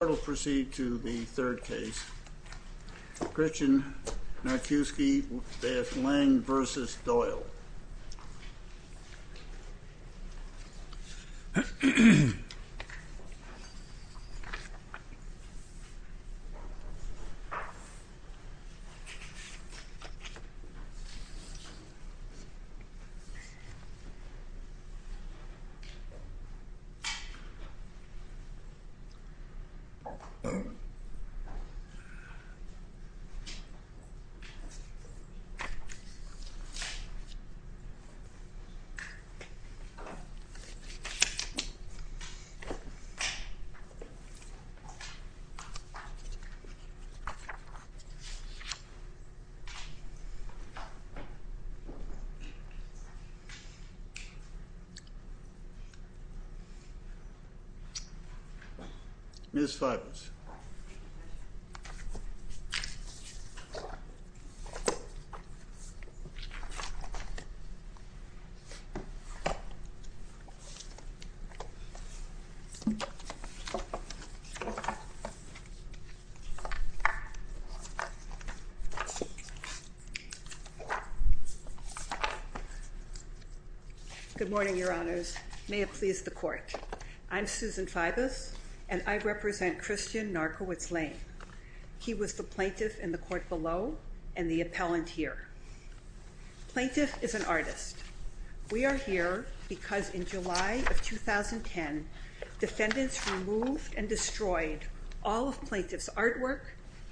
We'll proceed to the third case, Gretchen Narkiewicz-Laine v. Doyle. We'll proceed to the fourth case, Gretchen Narkiewicz-Laine v. Kevin Doyle. Good morning, Your Honors. May it please the Court. I'm Susan Fibus, and I represent Christian Narkiewicz-Laine. He was the plaintiff in the court below and the appellant here. Plaintiff is an artist. We are here because in July of 2010, defendants removed and destroyed all of plaintiff's artwork,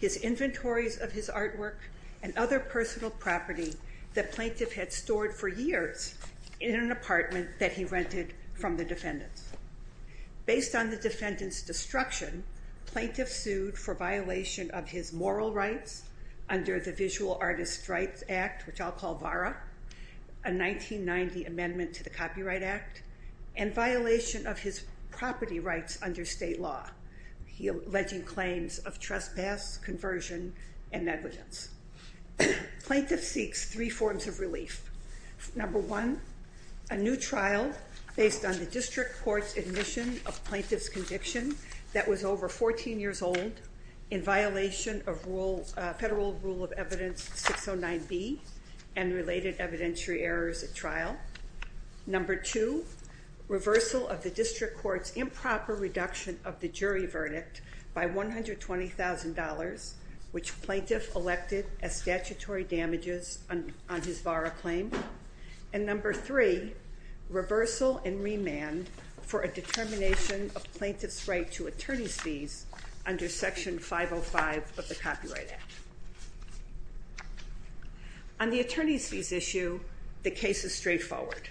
his inventories of his artwork, and other personal property that plaintiff had stored for years in an apartment that he rented from the defendants. Based on the defendant's destruction, plaintiff sued for violation of his moral rights under the Visual Artist Rights Act, which I'll call VARA, a 1990 amendment to the Copyright Act, and violation of his property rights under state law, alleging claims of trespass, conversion, and negligence. Plaintiff seeks three forms of relief. Number one, a new trial based on the district court's admission of plaintiff's conviction that was over 14 years old in violation of Federal Rule of Evidence 609B and related evidentiary errors at trial. Number two, reversal of the district court's improper reduction of the jury verdict by $120,000, which plaintiff elected as statutory damages on his VARA claim. And number three, reversal and remand for a determination of plaintiff's right to attorney's fees under Section 505 of the Copyright Act. On the attorney's fees issue, the case is straightforward.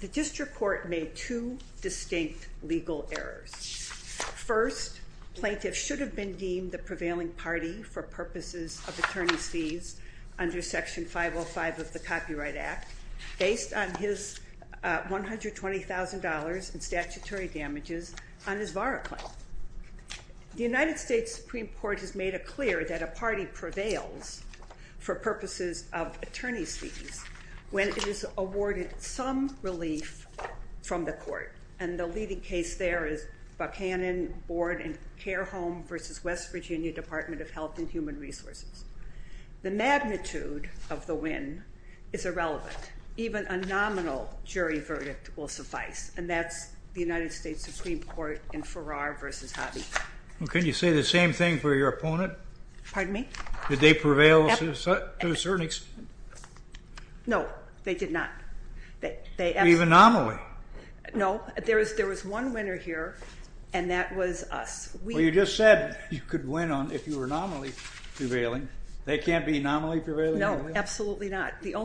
The district court made two distinct legal errors. First, plaintiff should have been deemed the prevailing party for purposes of attorney's fees under Section 505 of the Copyright Act based on his $120,000 in statutory damages on his VARA claim. The United States Supreme Court has made it clear that a party prevails for purposes of attorney's fees when it is awarded some relief from the court. And the leading case there is Buchanan Board and Care Home v. West Virginia Department of Health and Human Resources. The magnitude of the win is irrelevant. Even a nominal jury verdict will suffice, and that's the United States Supreme Court in Farrar v. Hobby. Well, couldn't you say the same thing for your opponent? Pardon me? Did they prevail to a certain extent? No, they did not. Were you an anomaly? No. There was one winner here, and that was us. Well, you just said you could win if you were anomaly prevailing. They can't be anomaly prevailing? No, absolutely not. How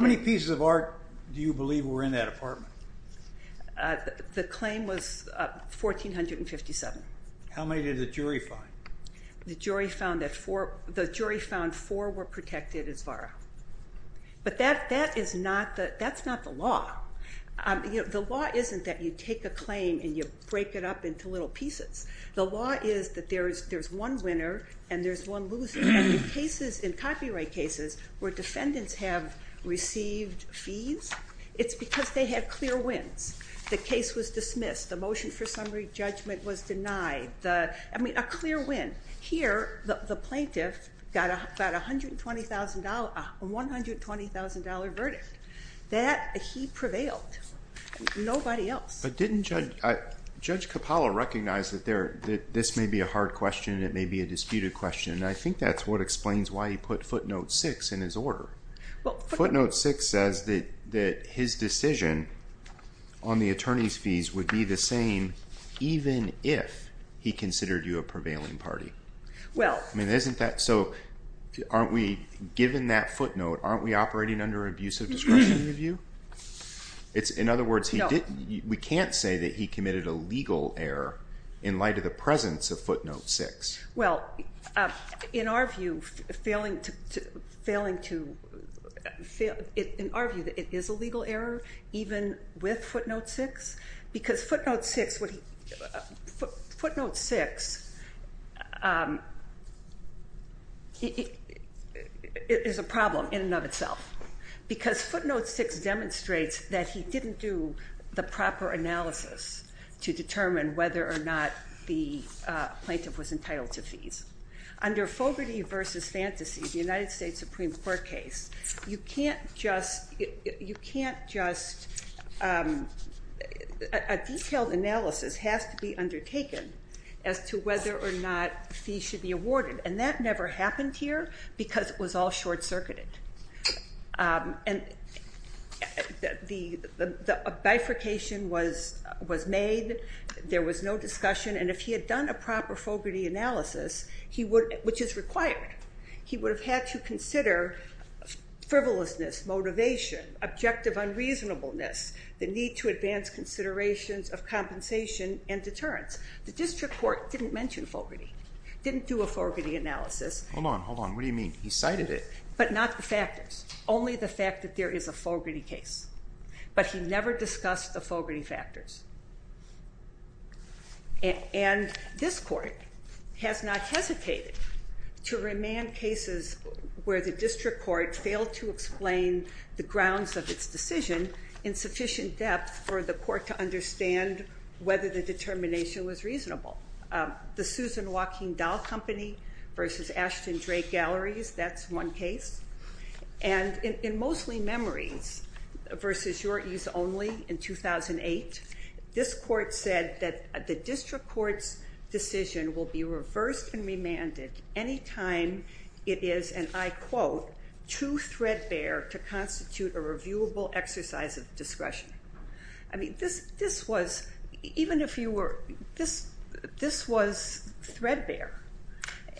many pieces of art do you believe were in that apartment? The claim was 1,457. How many did the jury find? The jury found four were protected as VARA. But that's not the law. The law isn't that you take a claim and you break it up into little pieces. The law is that there's one winner and there's one loser. And in cases, in copyright cases, where defendants have received fees, it's because they had clear wins. The case was dismissed. The motion for summary judgment was denied. I mean, a clear win. Here, the plaintiff got a $120,000 verdict. That, he prevailed. Nobody else. But didn't Judge Coppola recognize that this may be a hard question and it may be a disputed question? And I think that's what explains why he put footnote 6 in his order. Footnote 6 says that his decision on the attorney's fees would be the same even if he considered you a prevailing party. So, aren't we, given that footnote, aren't we operating under abusive discretion in your view? In other words, we can't say that he committed a legal error in light of the presence of footnote 6. Well, in our view, it is a legal error, even with footnote 6. Because footnote 6 is a problem in and of itself. Because footnote 6 demonstrates that he didn't do the proper analysis to determine whether or not the plaintiff was entitled to fees. Under Fogarty v. Fantasy, the United States Supreme Court case, you can't just, you can't just, a detailed analysis has to be undertaken as to whether or not fees should be awarded. And that never happened here because it was all short-circuited. And the bifurcation was made. There was no discussion. And if he had done a proper Fogarty analysis, which is required, he would have had to consider frivolousness, motivation, objective unreasonableness, the need to advance considerations of compensation and deterrence. The district court didn't mention Fogarty, didn't do a Fogarty analysis. Hold on, hold on. What do you mean? He cited it. But not the factors. Only the fact that there is a Fogarty case. But he never discussed the Fogarty factors. And this court has not hesitated to remand cases where the district court failed to explain the grounds of its decision in sufficient depth for the court to understand whether the determination was reasonable. The Susan Walking Dahl Company versus Ashton Drake Galleries, that's one case. And in Mostly Memories versus Your Ease Only in 2008, this court said that the district court's decision will be reversed and remanded any time it is, and I quote, true threadbare to constitute a reviewable exercise of discretion. I mean, this was threadbare.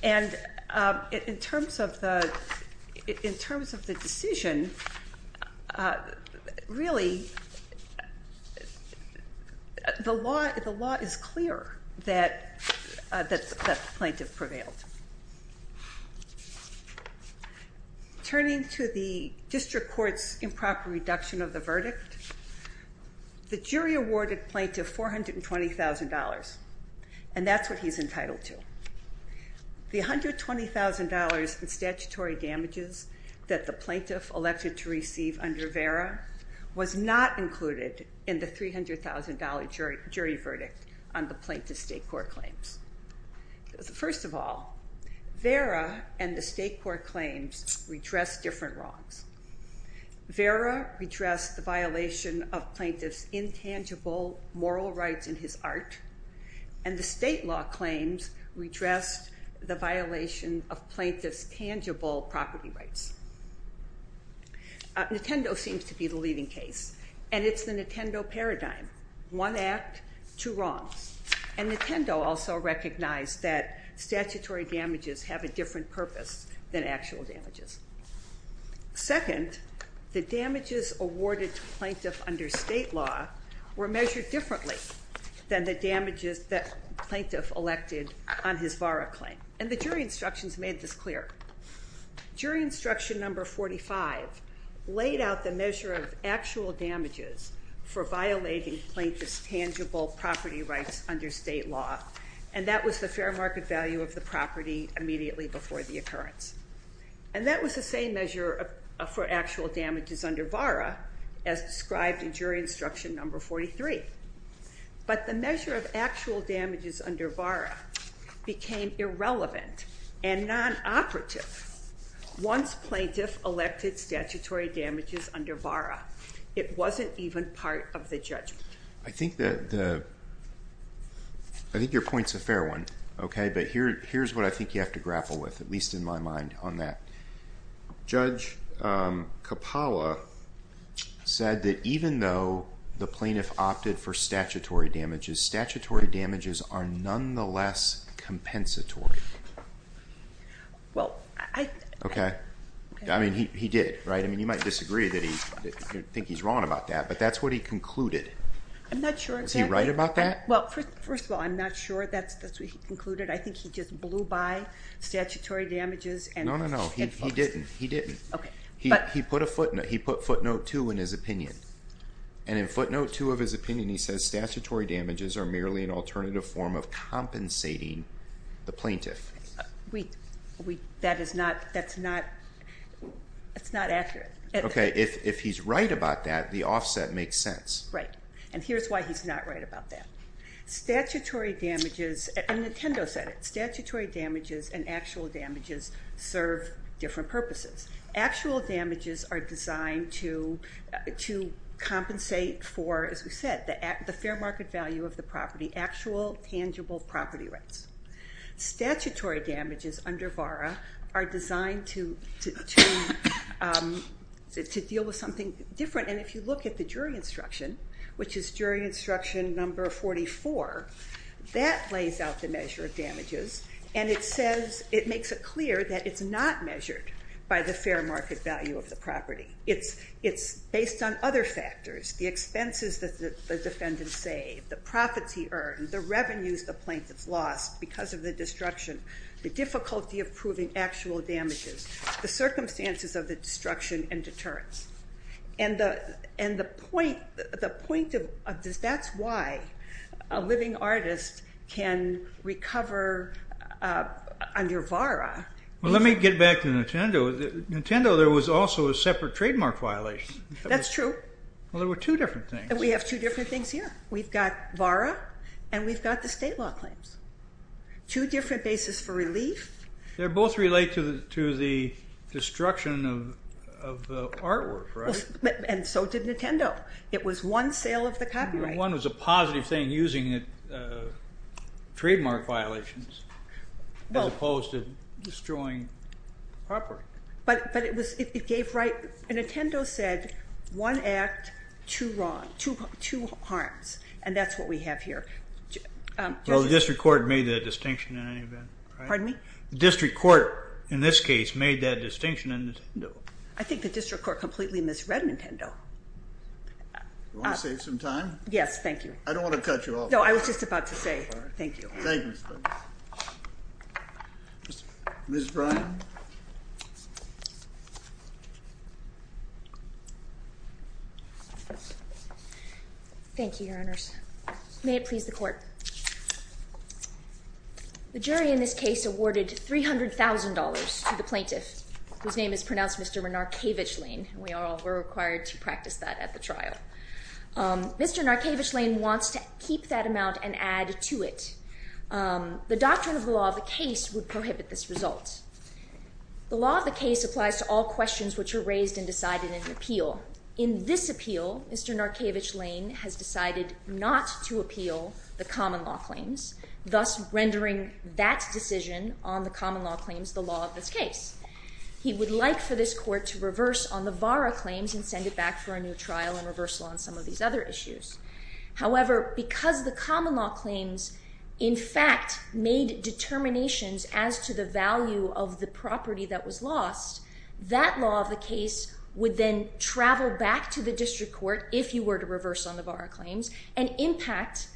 And in terms of the decision, really, the law is clear that the plaintiff prevailed. Turning to the district court's improper reduction of the verdict, the jury awarded plaintiff $420,000, and that's what he's entitled to. The $120,000 in statutory damages that the plaintiff elected to receive under VERA was not included in the $300,000 jury verdict on the plaintiff's state court claims. First of all, VERA and the state court claims redress different wrongs. VERA redressed the violation of plaintiff's intangible moral rights in his art, and the state law claims redressed the violation of plaintiff's tangible property rights. Nintendo seems to be the leading case, and it's the Nintendo paradigm, one act, two wrongs. And Nintendo also recognized that statutory damages have a different purpose than actual damages. Second, the damages awarded to plaintiff under state law were measured differently than the damages that plaintiff elected on his VERA claim. And the jury instructions made this clear. Jury instruction number 45 laid out the measure of actual damages for violating plaintiff's tangible property rights under state law, and that was the fair market value of the property immediately before the occurrence. And that was the same measure for actual damages under VERA as described in jury instruction number 43. But the measure of actual damages under VERA became irrelevant and non-operative once plaintiff elected statutory damages under VERA. It wasn't even part of the judgment. I think your point's a fair one, okay? But here's what I think you have to grapple with, at least in my mind, on that. Judge Kapala said that even though the plaintiff opted for statutory damages, statutory damages are nonetheless compensatory. Well, I... Okay. I mean, he did, right? I mean, you might disagree that he's wrong about that, but that's what he concluded. I'm not sure exactly. Is he right about that? Well, first of all, I'm not sure that's what he concluded. I think he just blew by statutory damages and... No, no, no. He didn't. He put a footnote. He put footnote 2 in his opinion. And in footnote 2 of his opinion, he says statutory damages are merely an alternative form of compensating the plaintiff. That is not accurate. Okay. If he's right about that, the offset makes sense. Right. And here's why he's not right about that. Statutory damages, and Nintendo said it, statutory damages and actual damages serve different purposes. Actual damages are designed to compensate for, as we said, the fair market value of the property, actual tangible property rights. Statutory damages under VARA are designed to deal with something different. And if you look at the jury instruction, which is jury instruction number 44, that lays out the measure of damages. And it says, it makes it clear that it's not measured by the fair market value of the property. It's based on other factors, the expenses that the defendant saved, the profits he earned, the revenues the plaintiff lost because of the destruction, the difficulty of proving actual damages, the circumstances of the destruction and deterrence. And the point of this, that's why a living artist can recover under VARA. Well, let me get back to Nintendo. Nintendo, there was also a separate trademark violation. That's true. Well, there were two different things. We have two different things here. We've got VARA and we've got the state law claims. Two different bases for relief. They both relate to the destruction of artwork, right? And so did Nintendo. It was one sale of the copyright. One was a positive thing, using trademark violations as opposed to destroying property. But it gave right. Nintendo said one act, two wrong, two harms. And that's what we have here. Well, the district court made that distinction in any event, right? Pardon me? The district court, in this case, made that distinction in Nintendo. I think the district court completely misread Nintendo. Do you want to save some time? Yes, thank you. I don't want to cut you off. No, I was just about to say thank you. Thank you. Ms. Bryan. Thank you, Your Honors. May it please the Court. The jury in this case awarded $300,000 to the plaintiff, whose name is pronounced Mr. Renarkavich-Lane. We're required to practice that at the trial. Mr. Renarkavich-Lane wants to keep that amount and add to it. The doctrine of the law of the case would prohibit this result. The law of the case applies to all questions which are raised and decided in an appeal. In this appeal, Mr. Renarkavich-Lane has decided not to appeal the common law claims, thus rendering that decision on the common law claims the law of this case. He would like for this court to reverse on the VARA claims and send it back for a new trial and reversal on some of these other issues. However, because the common law claims, in fact, made determinations as to the value of the property that was lost, that law of the case would then travel back to the district court if you were to reverse on the VARA claims and impact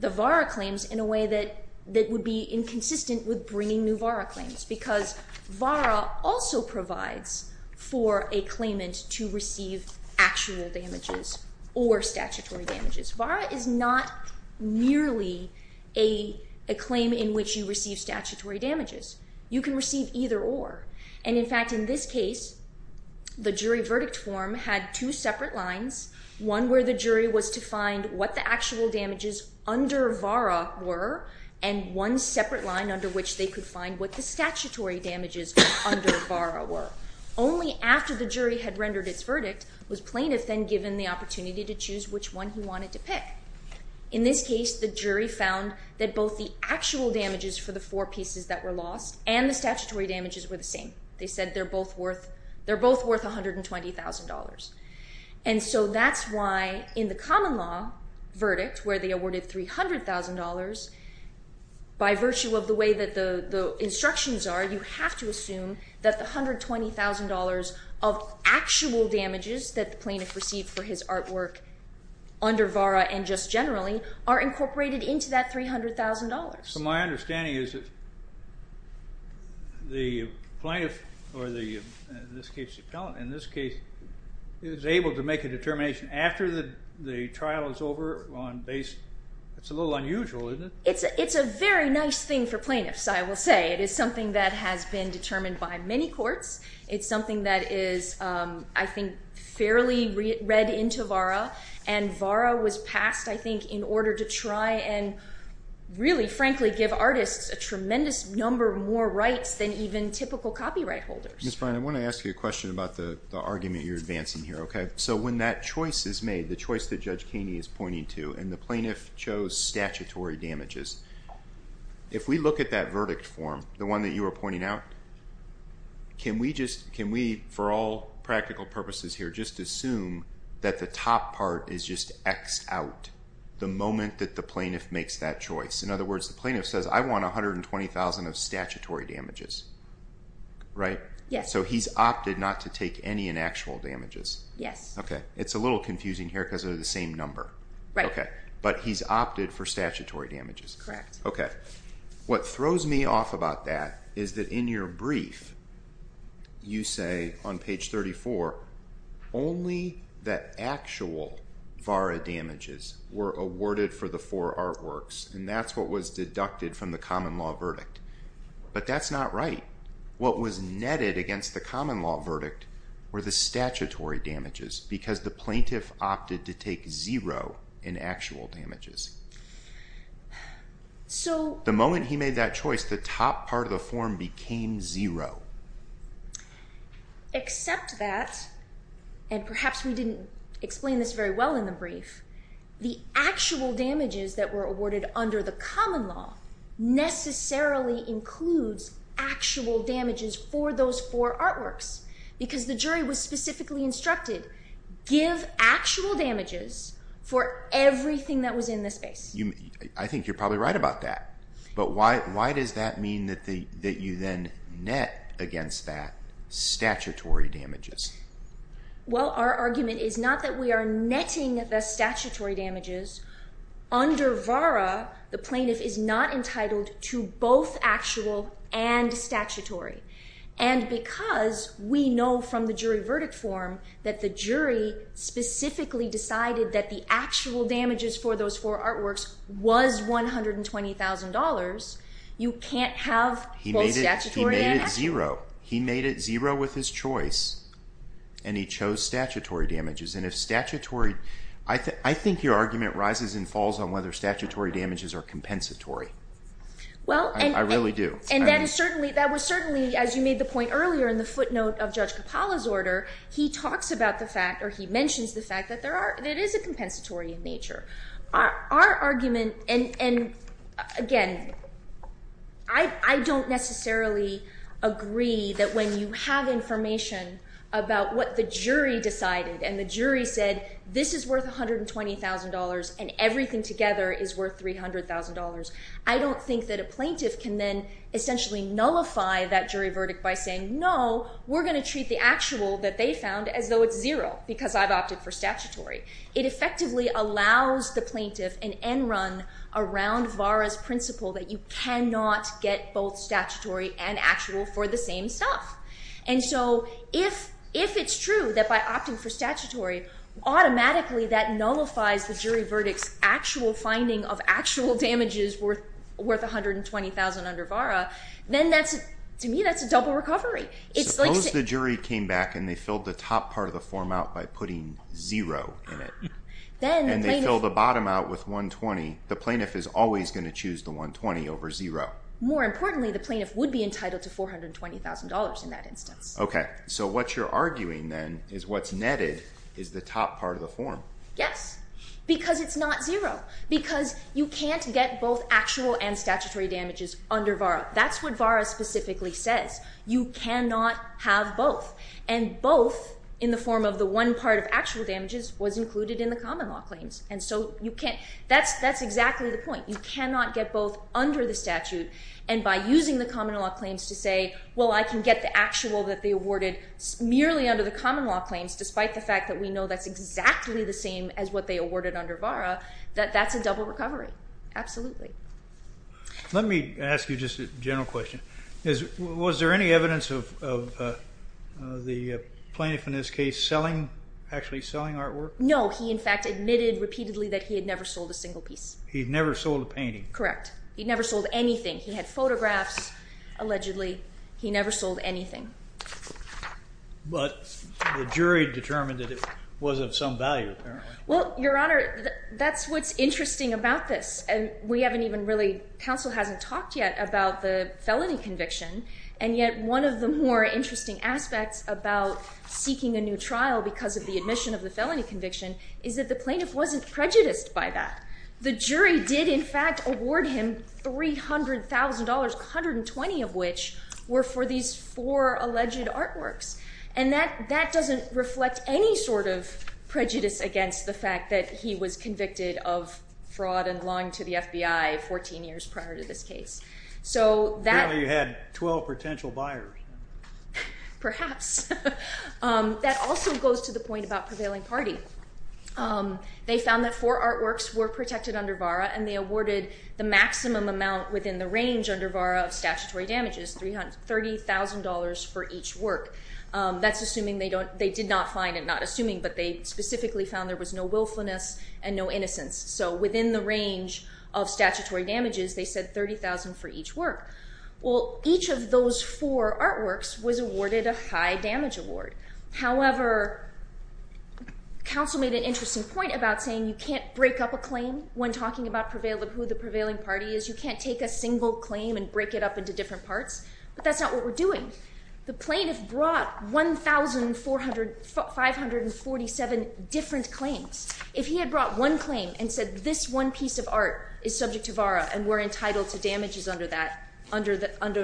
the VARA claims in a way that would be inconsistent with bringing new VARA claims because VARA also provides for a claimant to receive actual damages or statutory damages. VARA is not merely a claim in which you receive statutory damages. You can receive either or. In fact, in this case, the jury verdict form had two separate lines, one where the jury was to find what the actual damages under VARA were and one separate line under which they could find what the statutory damages under VARA were. Only after the jury had rendered its verdict was plaintiff then given the opportunity to choose which one he wanted to pick. In this case, the jury found that both the actual damages for the four pieces that were lost and the statutory damages were the same. They said they're both worth $120,000. And so that's why in the common law verdict where they awarded $300,000, by virtue of the way that the instructions are, you have to assume that the $120,000 of actual damages that the plaintiff received for his artwork under VARA and just generally are incorporated into that $300,000. So my understanding is that the plaintiff, or in this case the appellant, in this case is able to make a determination after the trial is over on base. It's a little unusual, isn't it? It's a very nice thing for plaintiffs, I will say. It is something that has been determined by many courts. It's something that is, I think, fairly read into VARA, and VARA was passed, I think, in order to try and really, frankly, give artists a tremendous number more rights than even typical copyright holders. Mr. Bryan, I want to ask you a question about the argument you're advancing here, okay? So when that choice is made, the choice that Judge Kaney is pointing to, and the plaintiff chose statutory damages, if we look at that verdict form, the one that you were pointing out, can we, for all practical purposes here, just assume that the top part is just X out the moment that the plaintiff makes that choice? In other words, the plaintiff says, I want $120,000 of statutory damages, right? Yes. So he's opted not to take any in actual damages? Yes. Okay. It's a little confusing here because they're the same number. Right. But he's opted for statutory damages. Correct. Okay. What throws me off about that is that in your brief, you say on page 34, only the actual VARA damages were awarded for the four artworks, and that's what was deducted from the common law verdict. But that's not right. What was netted against the common law verdict were the statutory damages because the plaintiff opted to take zero in actual damages. The moment he made that choice, the top part of the form became zero. Except that, and perhaps we didn't explain this very well in the brief, the actual damages that were awarded under the common law necessarily includes actual damages for those four artworks because the jury was specifically instructed, give actual damages for everything that was in the space. I think you're probably right about that. But why does that mean that you then net against that statutory damages? Well, our argument is not that we are netting the statutory damages. Under VARA, the plaintiff is not entitled to both actual and statutory. And because we know from the jury verdict form that the jury specifically decided that the actual damages for those four artworks was $120,000, you can't have both statutory and actual. He made it zero. He made it zero with his choice, and he chose statutory damages. And if statutory, I think your argument rises and falls on whether statutory damages are compensatory. I really do. And that was certainly, as you made the point earlier in the footnote of Judge Capalla's order, he mentions the fact that it is a compensatory in nature. Our argument, and again, I don't necessarily agree that when you have information about what the jury decided and the jury said this is worth $120,000 and everything together is worth $300,000, I don't think that a plaintiff can then essentially nullify that jury verdict by saying no, we're going to treat the actual that they found as though it's zero because I've opted for statutory. It effectively allows the plaintiff an end run around VARA's principle that you cannot get both statutory and actual for the same stuff. And so if it's true that by opting for statutory, automatically that nullifies the jury verdict's actual finding of actual damages worth $120,000 under VARA, then to me that's a double recovery. Suppose the jury came back and they filled the top part of the form out by putting zero in it. And they filled the bottom out with $120,000. The plaintiff is always going to choose the $120,000 over zero. More importantly, the plaintiff would be entitled to $420,000 in that instance. Okay, so what you're arguing then is what's netted is the top part of the form. Yes, because it's not zero. Because you can't get both actual and statutory damages under VARA. That's what VARA specifically says. You cannot have both. And both in the form of the one part of actual damages was included in the common law claims. And so that's exactly the point. You cannot get both under the statute. And by using the common law claims to say, well, I can get the actual that they awarded merely under the common law claims, despite the fact that we know that's exactly the same as what they awarded under VARA, that that's a double recovery. Absolutely. Let me ask you just a general question. Was there any evidence of the plaintiff in this case actually selling artwork? No, he in fact admitted repeatedly that he had never sold a single piece. He'd never sold a painting. Correct. He'd never sold anything. He had photographs, allegedly. He never sold anything. But the jury determined that it was of some value, apparently. Well, Your Honor, that's what's interesting about this. And we haven't even really... Counsel hasn't talked yet about the felony conviction. And yet one of the more interesting aspects about seeking a new trial because of the admission of the felony conviction is that the plaintiff wasn't prejudiced by that. The jury did in fact award him $300,000, $120,000 of which were for these four alleged artworks. And that doesn't reflect any sort of prejudice against the fact that he was convicted of fraud and lying to the FBI 14 years prior to this case. Apparently you had 12 potential buyers. Perhaps. That also goes to the point about prevailing party. They found that four artworks were protected under VARA and they awarded the maximum amount within the range under VARA of statutory damages, $30,000 for each work. That's assuming they did not find it. Not assuming, but they specifically found there was no willfulness and no innocence. So within the range of statutory damages, they said $30,000 for each work. Well, each of those four artworks was awarded a high damage award. However, counsel made an interesting point about saying you can't break up a claim when talking about who the prevailing party is. You can't take a single claim and break it up into different parts. But that's not what we're doing. The plaintiff brought 1,547 different claims. If he had brought one claim and said this one piece of art is subject to VARA and we're entitled to damages under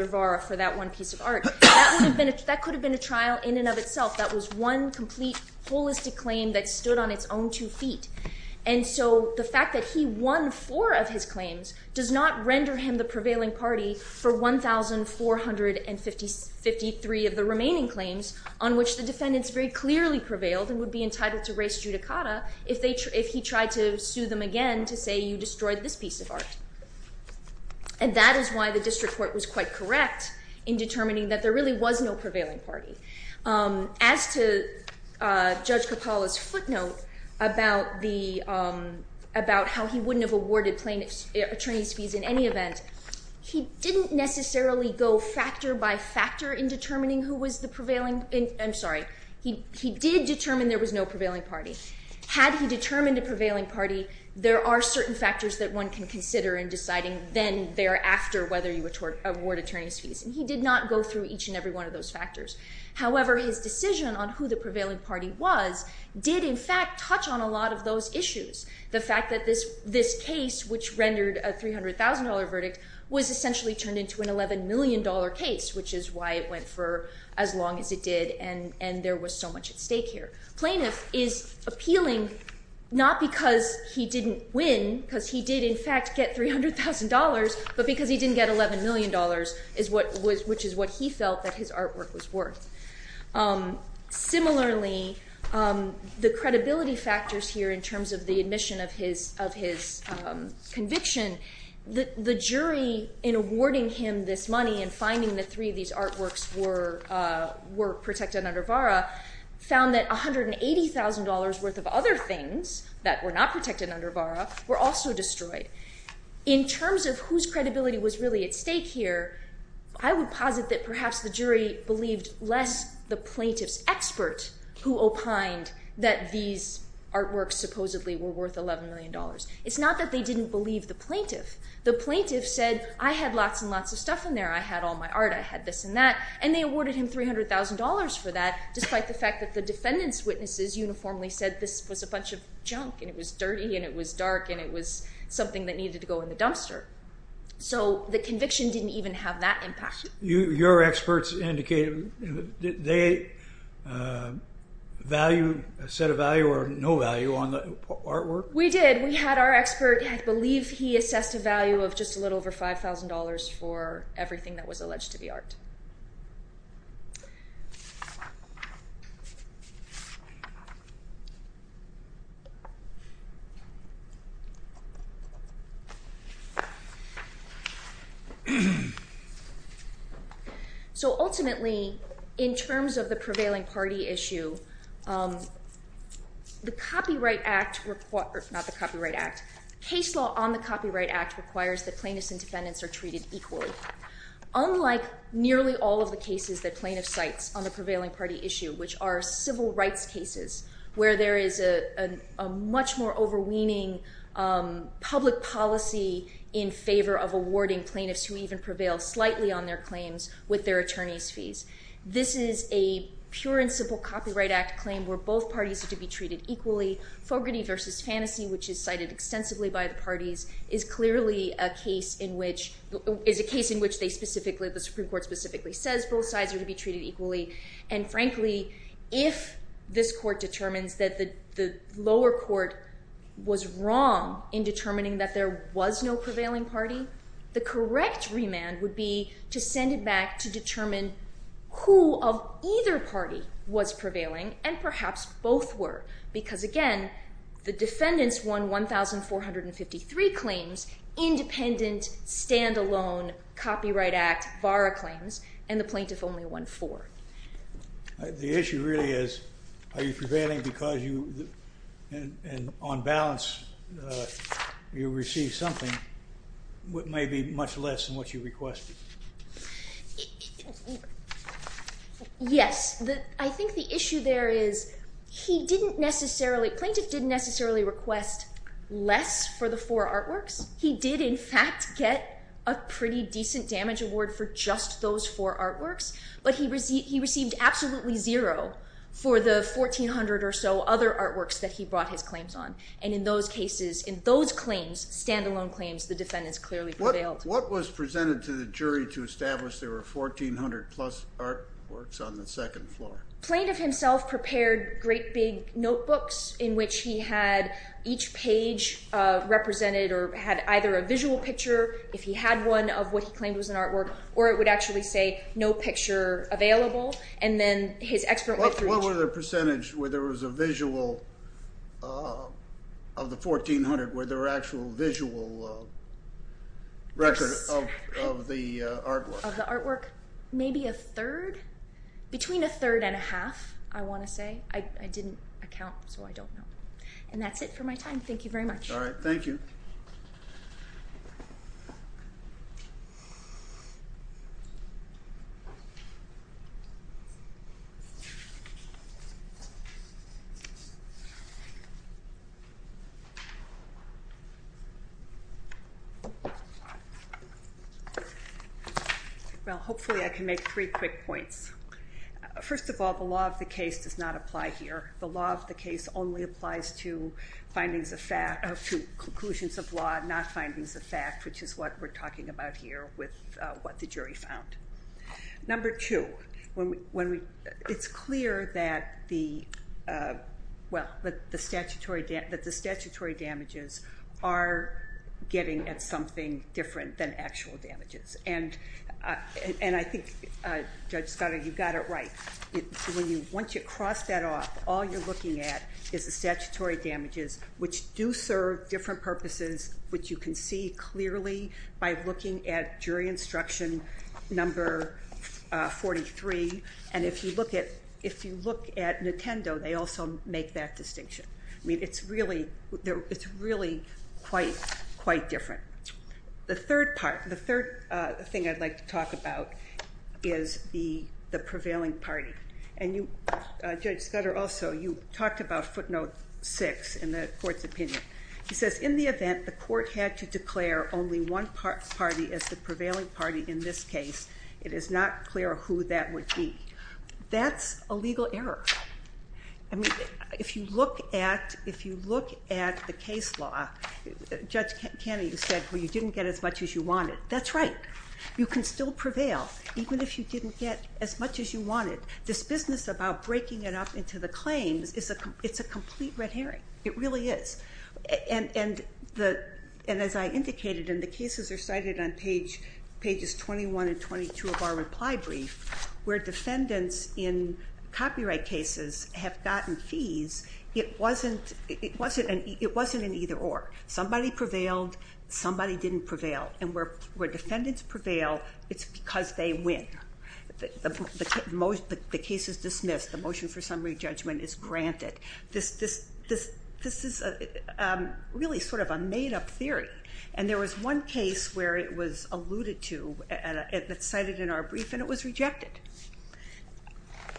VARA for that one piece of art, that could have been a trial in and of itself. That was one complete holistic claim that stood on its own two feet. And so the fact that he won four of his claims does not render him the prevailing party for 1,453 of the remaining claims on which the defendants very clearly prevailed and would be entitled to res judicata if he tried to sue them again to say you destroyed this piece of art. And that is why the district court was quite correct in determining that there really was no prevailing party. As to Judge Capalla's footnote about how he wouldn't have awarded plaintiff's attorney's fees in any event, he didn't necessarily go factor by factor in determining who was the prevailing... I'm sorry. He did determine there was no prevailing party. Had he determined a prevailing party, there are certain factors that one can consider in deciding then thereafter whether you award attorney's fees. And he did not go through each and every one of those factors. However, his decision on who the prevailing party was did in fact touch on a lot of those issues. The fact that this case, which rendered a $300,000 verdict, was essentially turned into an $11 million case, which is why it went for as long as it did and there was so much at stake here. Plaintiff is appealing not because he didn't win, because he did in fact get $300,000, but because he didn't get $11 million, which is what he felt that his artwork was worth. Similarly, the credibility factors here in terms of the admission of his conviction, the jury in awarding him this money and finding that three of these artworks were protected under VARA found that $180,000 worth of other things that were not protected under VARA were also destroyed. In terms of whose credibility was really at stake here, I would posit that perhaps the jury believed less the plaintiff's expert who opined that these artworks supposedly were worth $11 million. It's not that they didn't believe the plaintiff. The plaintiff said, I had lots and lots of stuff in there, I had all my art, I had this and that, and they awarded him $300,000 for that despite the fact that the defendant's witnesses uniformly said this was a bunch of junk and it was dirty and it was dark and it was something that needed to go in the dumpster. So the conviction didn't even have that impact. Your experts indicated, did they set a value or no value on the artwork? We did. We had our expert, I believe he assessed a value of just a little over $5,000 for everything that was alleged to be art. So ultimately, in terms of the prevailing party issue, the Copyright Act, not the Copyright Act, case law on the Copyright Act requires that plaintiffs and defendants are treated equally. Unlike nearly all of the cases that plaintiffs cite on the prevailing party issue, which are civil rights cases where there is a much more overweening public policy in favor of awarding plaintiffs who even prevail slightly on their claims with their attorney's fees. This is a pure and simple Copyright Act claim where both parties are to be treated equally. Fogarty v. Fantasy, which is cited extensively by the parties, is clearly a case in which they specifically, the Supreme Court specifically says both sides are to be treated equally. And frankly, if this court determines that the lower court was wrong in determining that there was no prevailing party, the correct remand would be to send it back to determine who of either party was prevailing and perhaps both were. Because again, the defendants won 1,453 claims, independent, stand-alone, Copyright Act, VARA claims, and the plaintiff only won four. The issue really is are you prevailing because you, on balance, you receive something that may be much less than what you requested. Yes, I think the issue there is he didn't necessarily, the plaintiff didn't necessarily request less for the four artworks. He did in fact get a pretty decent damage award for just those four artworks, but he received absolutely zero for the 1,400 or so other artworks that he brought his claims on. And in those cases, in those claims, stand-alone claims, the defendants clearly prevailed. What was presented to the jury to establish there were 1,400-plus artworks on the second floor? The plaintiff himself prepared great big notebooks in which he had each page represented or had either a visual picture, if he had one, of what he claimed was an artwork, or it would actually say no picture available. And then his expert... What was the percentage where there was a visual of the 1,400, where there were actual visual records of the artwork? Of the artwork, maybe a third, between a third and a half, I want to say. I didn't account, so I don't know. And that's it for my time. Thank you very much. All right, thank you. Thank you. Well, hopefully I can make three quick points. First of all, the law of the case does not apply here. The law of the case only applies to findings of fact... or to conclusions of law, not findings of fact, which is what we're talking about here with what the jury found. Number two, it's clear that the statutory damages are getting at something different than actual damages. And I think, Judge Scott, you've got it right. Once you cross that off, all you're looking at is the statutory damages, which do serve different purposes, which you can see clearly by looking at jury instruction number 43. And if you look at Nintendo, they also make that distinction. I mean, it's really quite different. The third part, the third thing I'd like to talk about is the prevailing party. And Judge Scudder, also, you talked about footnote 6 in the court's opinion. He says, In the event the court had to declare only one party as the prevailing party in this case, it is not clear who that would be. That's a legal error. I mean, if you look at the case law, Judge Kennedy said, well, you didn't get as much as you wanted. That's right. You can still prevail, even if you didn't get as much as you wanted. This business about breaking it up into the claims, it's a complete red herring. It really is. And as I indicated, and the cases are cited on pages 21 and 22 of our reply brief, where defendants in copyright cases have gotten fees, it wasn't an either-or. Somebody prevailed. Somebody didn't prevail. And where defendants prevail, it's because they win. The case is dismissed. The motion for summary judgment is granted. This is really sort of a made-up theory. And there was one case where it was alluded to, that's cited in our brief, and it was rejected.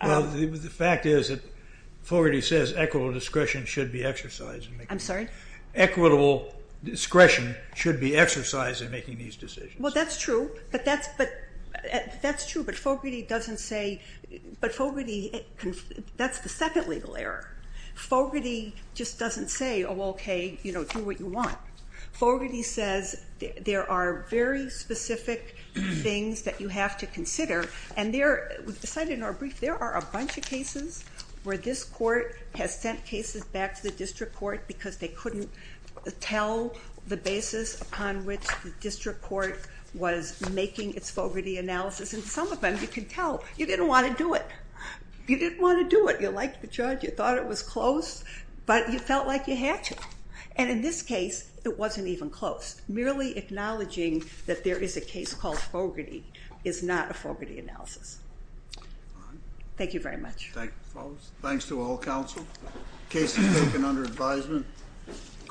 Well, the fact is that Fogarty says equitable discretion should be exercised. I'm sorry? Equitable discretion should be exercised in making these decisions. Well, that's true. But that's true. But Fogarty doesn't say, but Fogarty, that's the second legal error. Fogarty just doesn't say, oh, okay, do what you want. Fogarty says there are very specific things that you have to consider. And we've cited in our brief, there are a bunch of cases where this court has sent cases back to the district court because they couldn't tell the basis upon which the district court was making its Fogarty analysis. And some of them you can tell. You didn't want to do it. You didn't want to do it. You liked the charge. You thought it was close. But you felt like you had to. And in this case, it wasn't even close. Merely acknowledging that there is a case called Fogarty is not a Fogarty analysis. Thank you very much. Thanks to all counsel. Case is taken under advisement.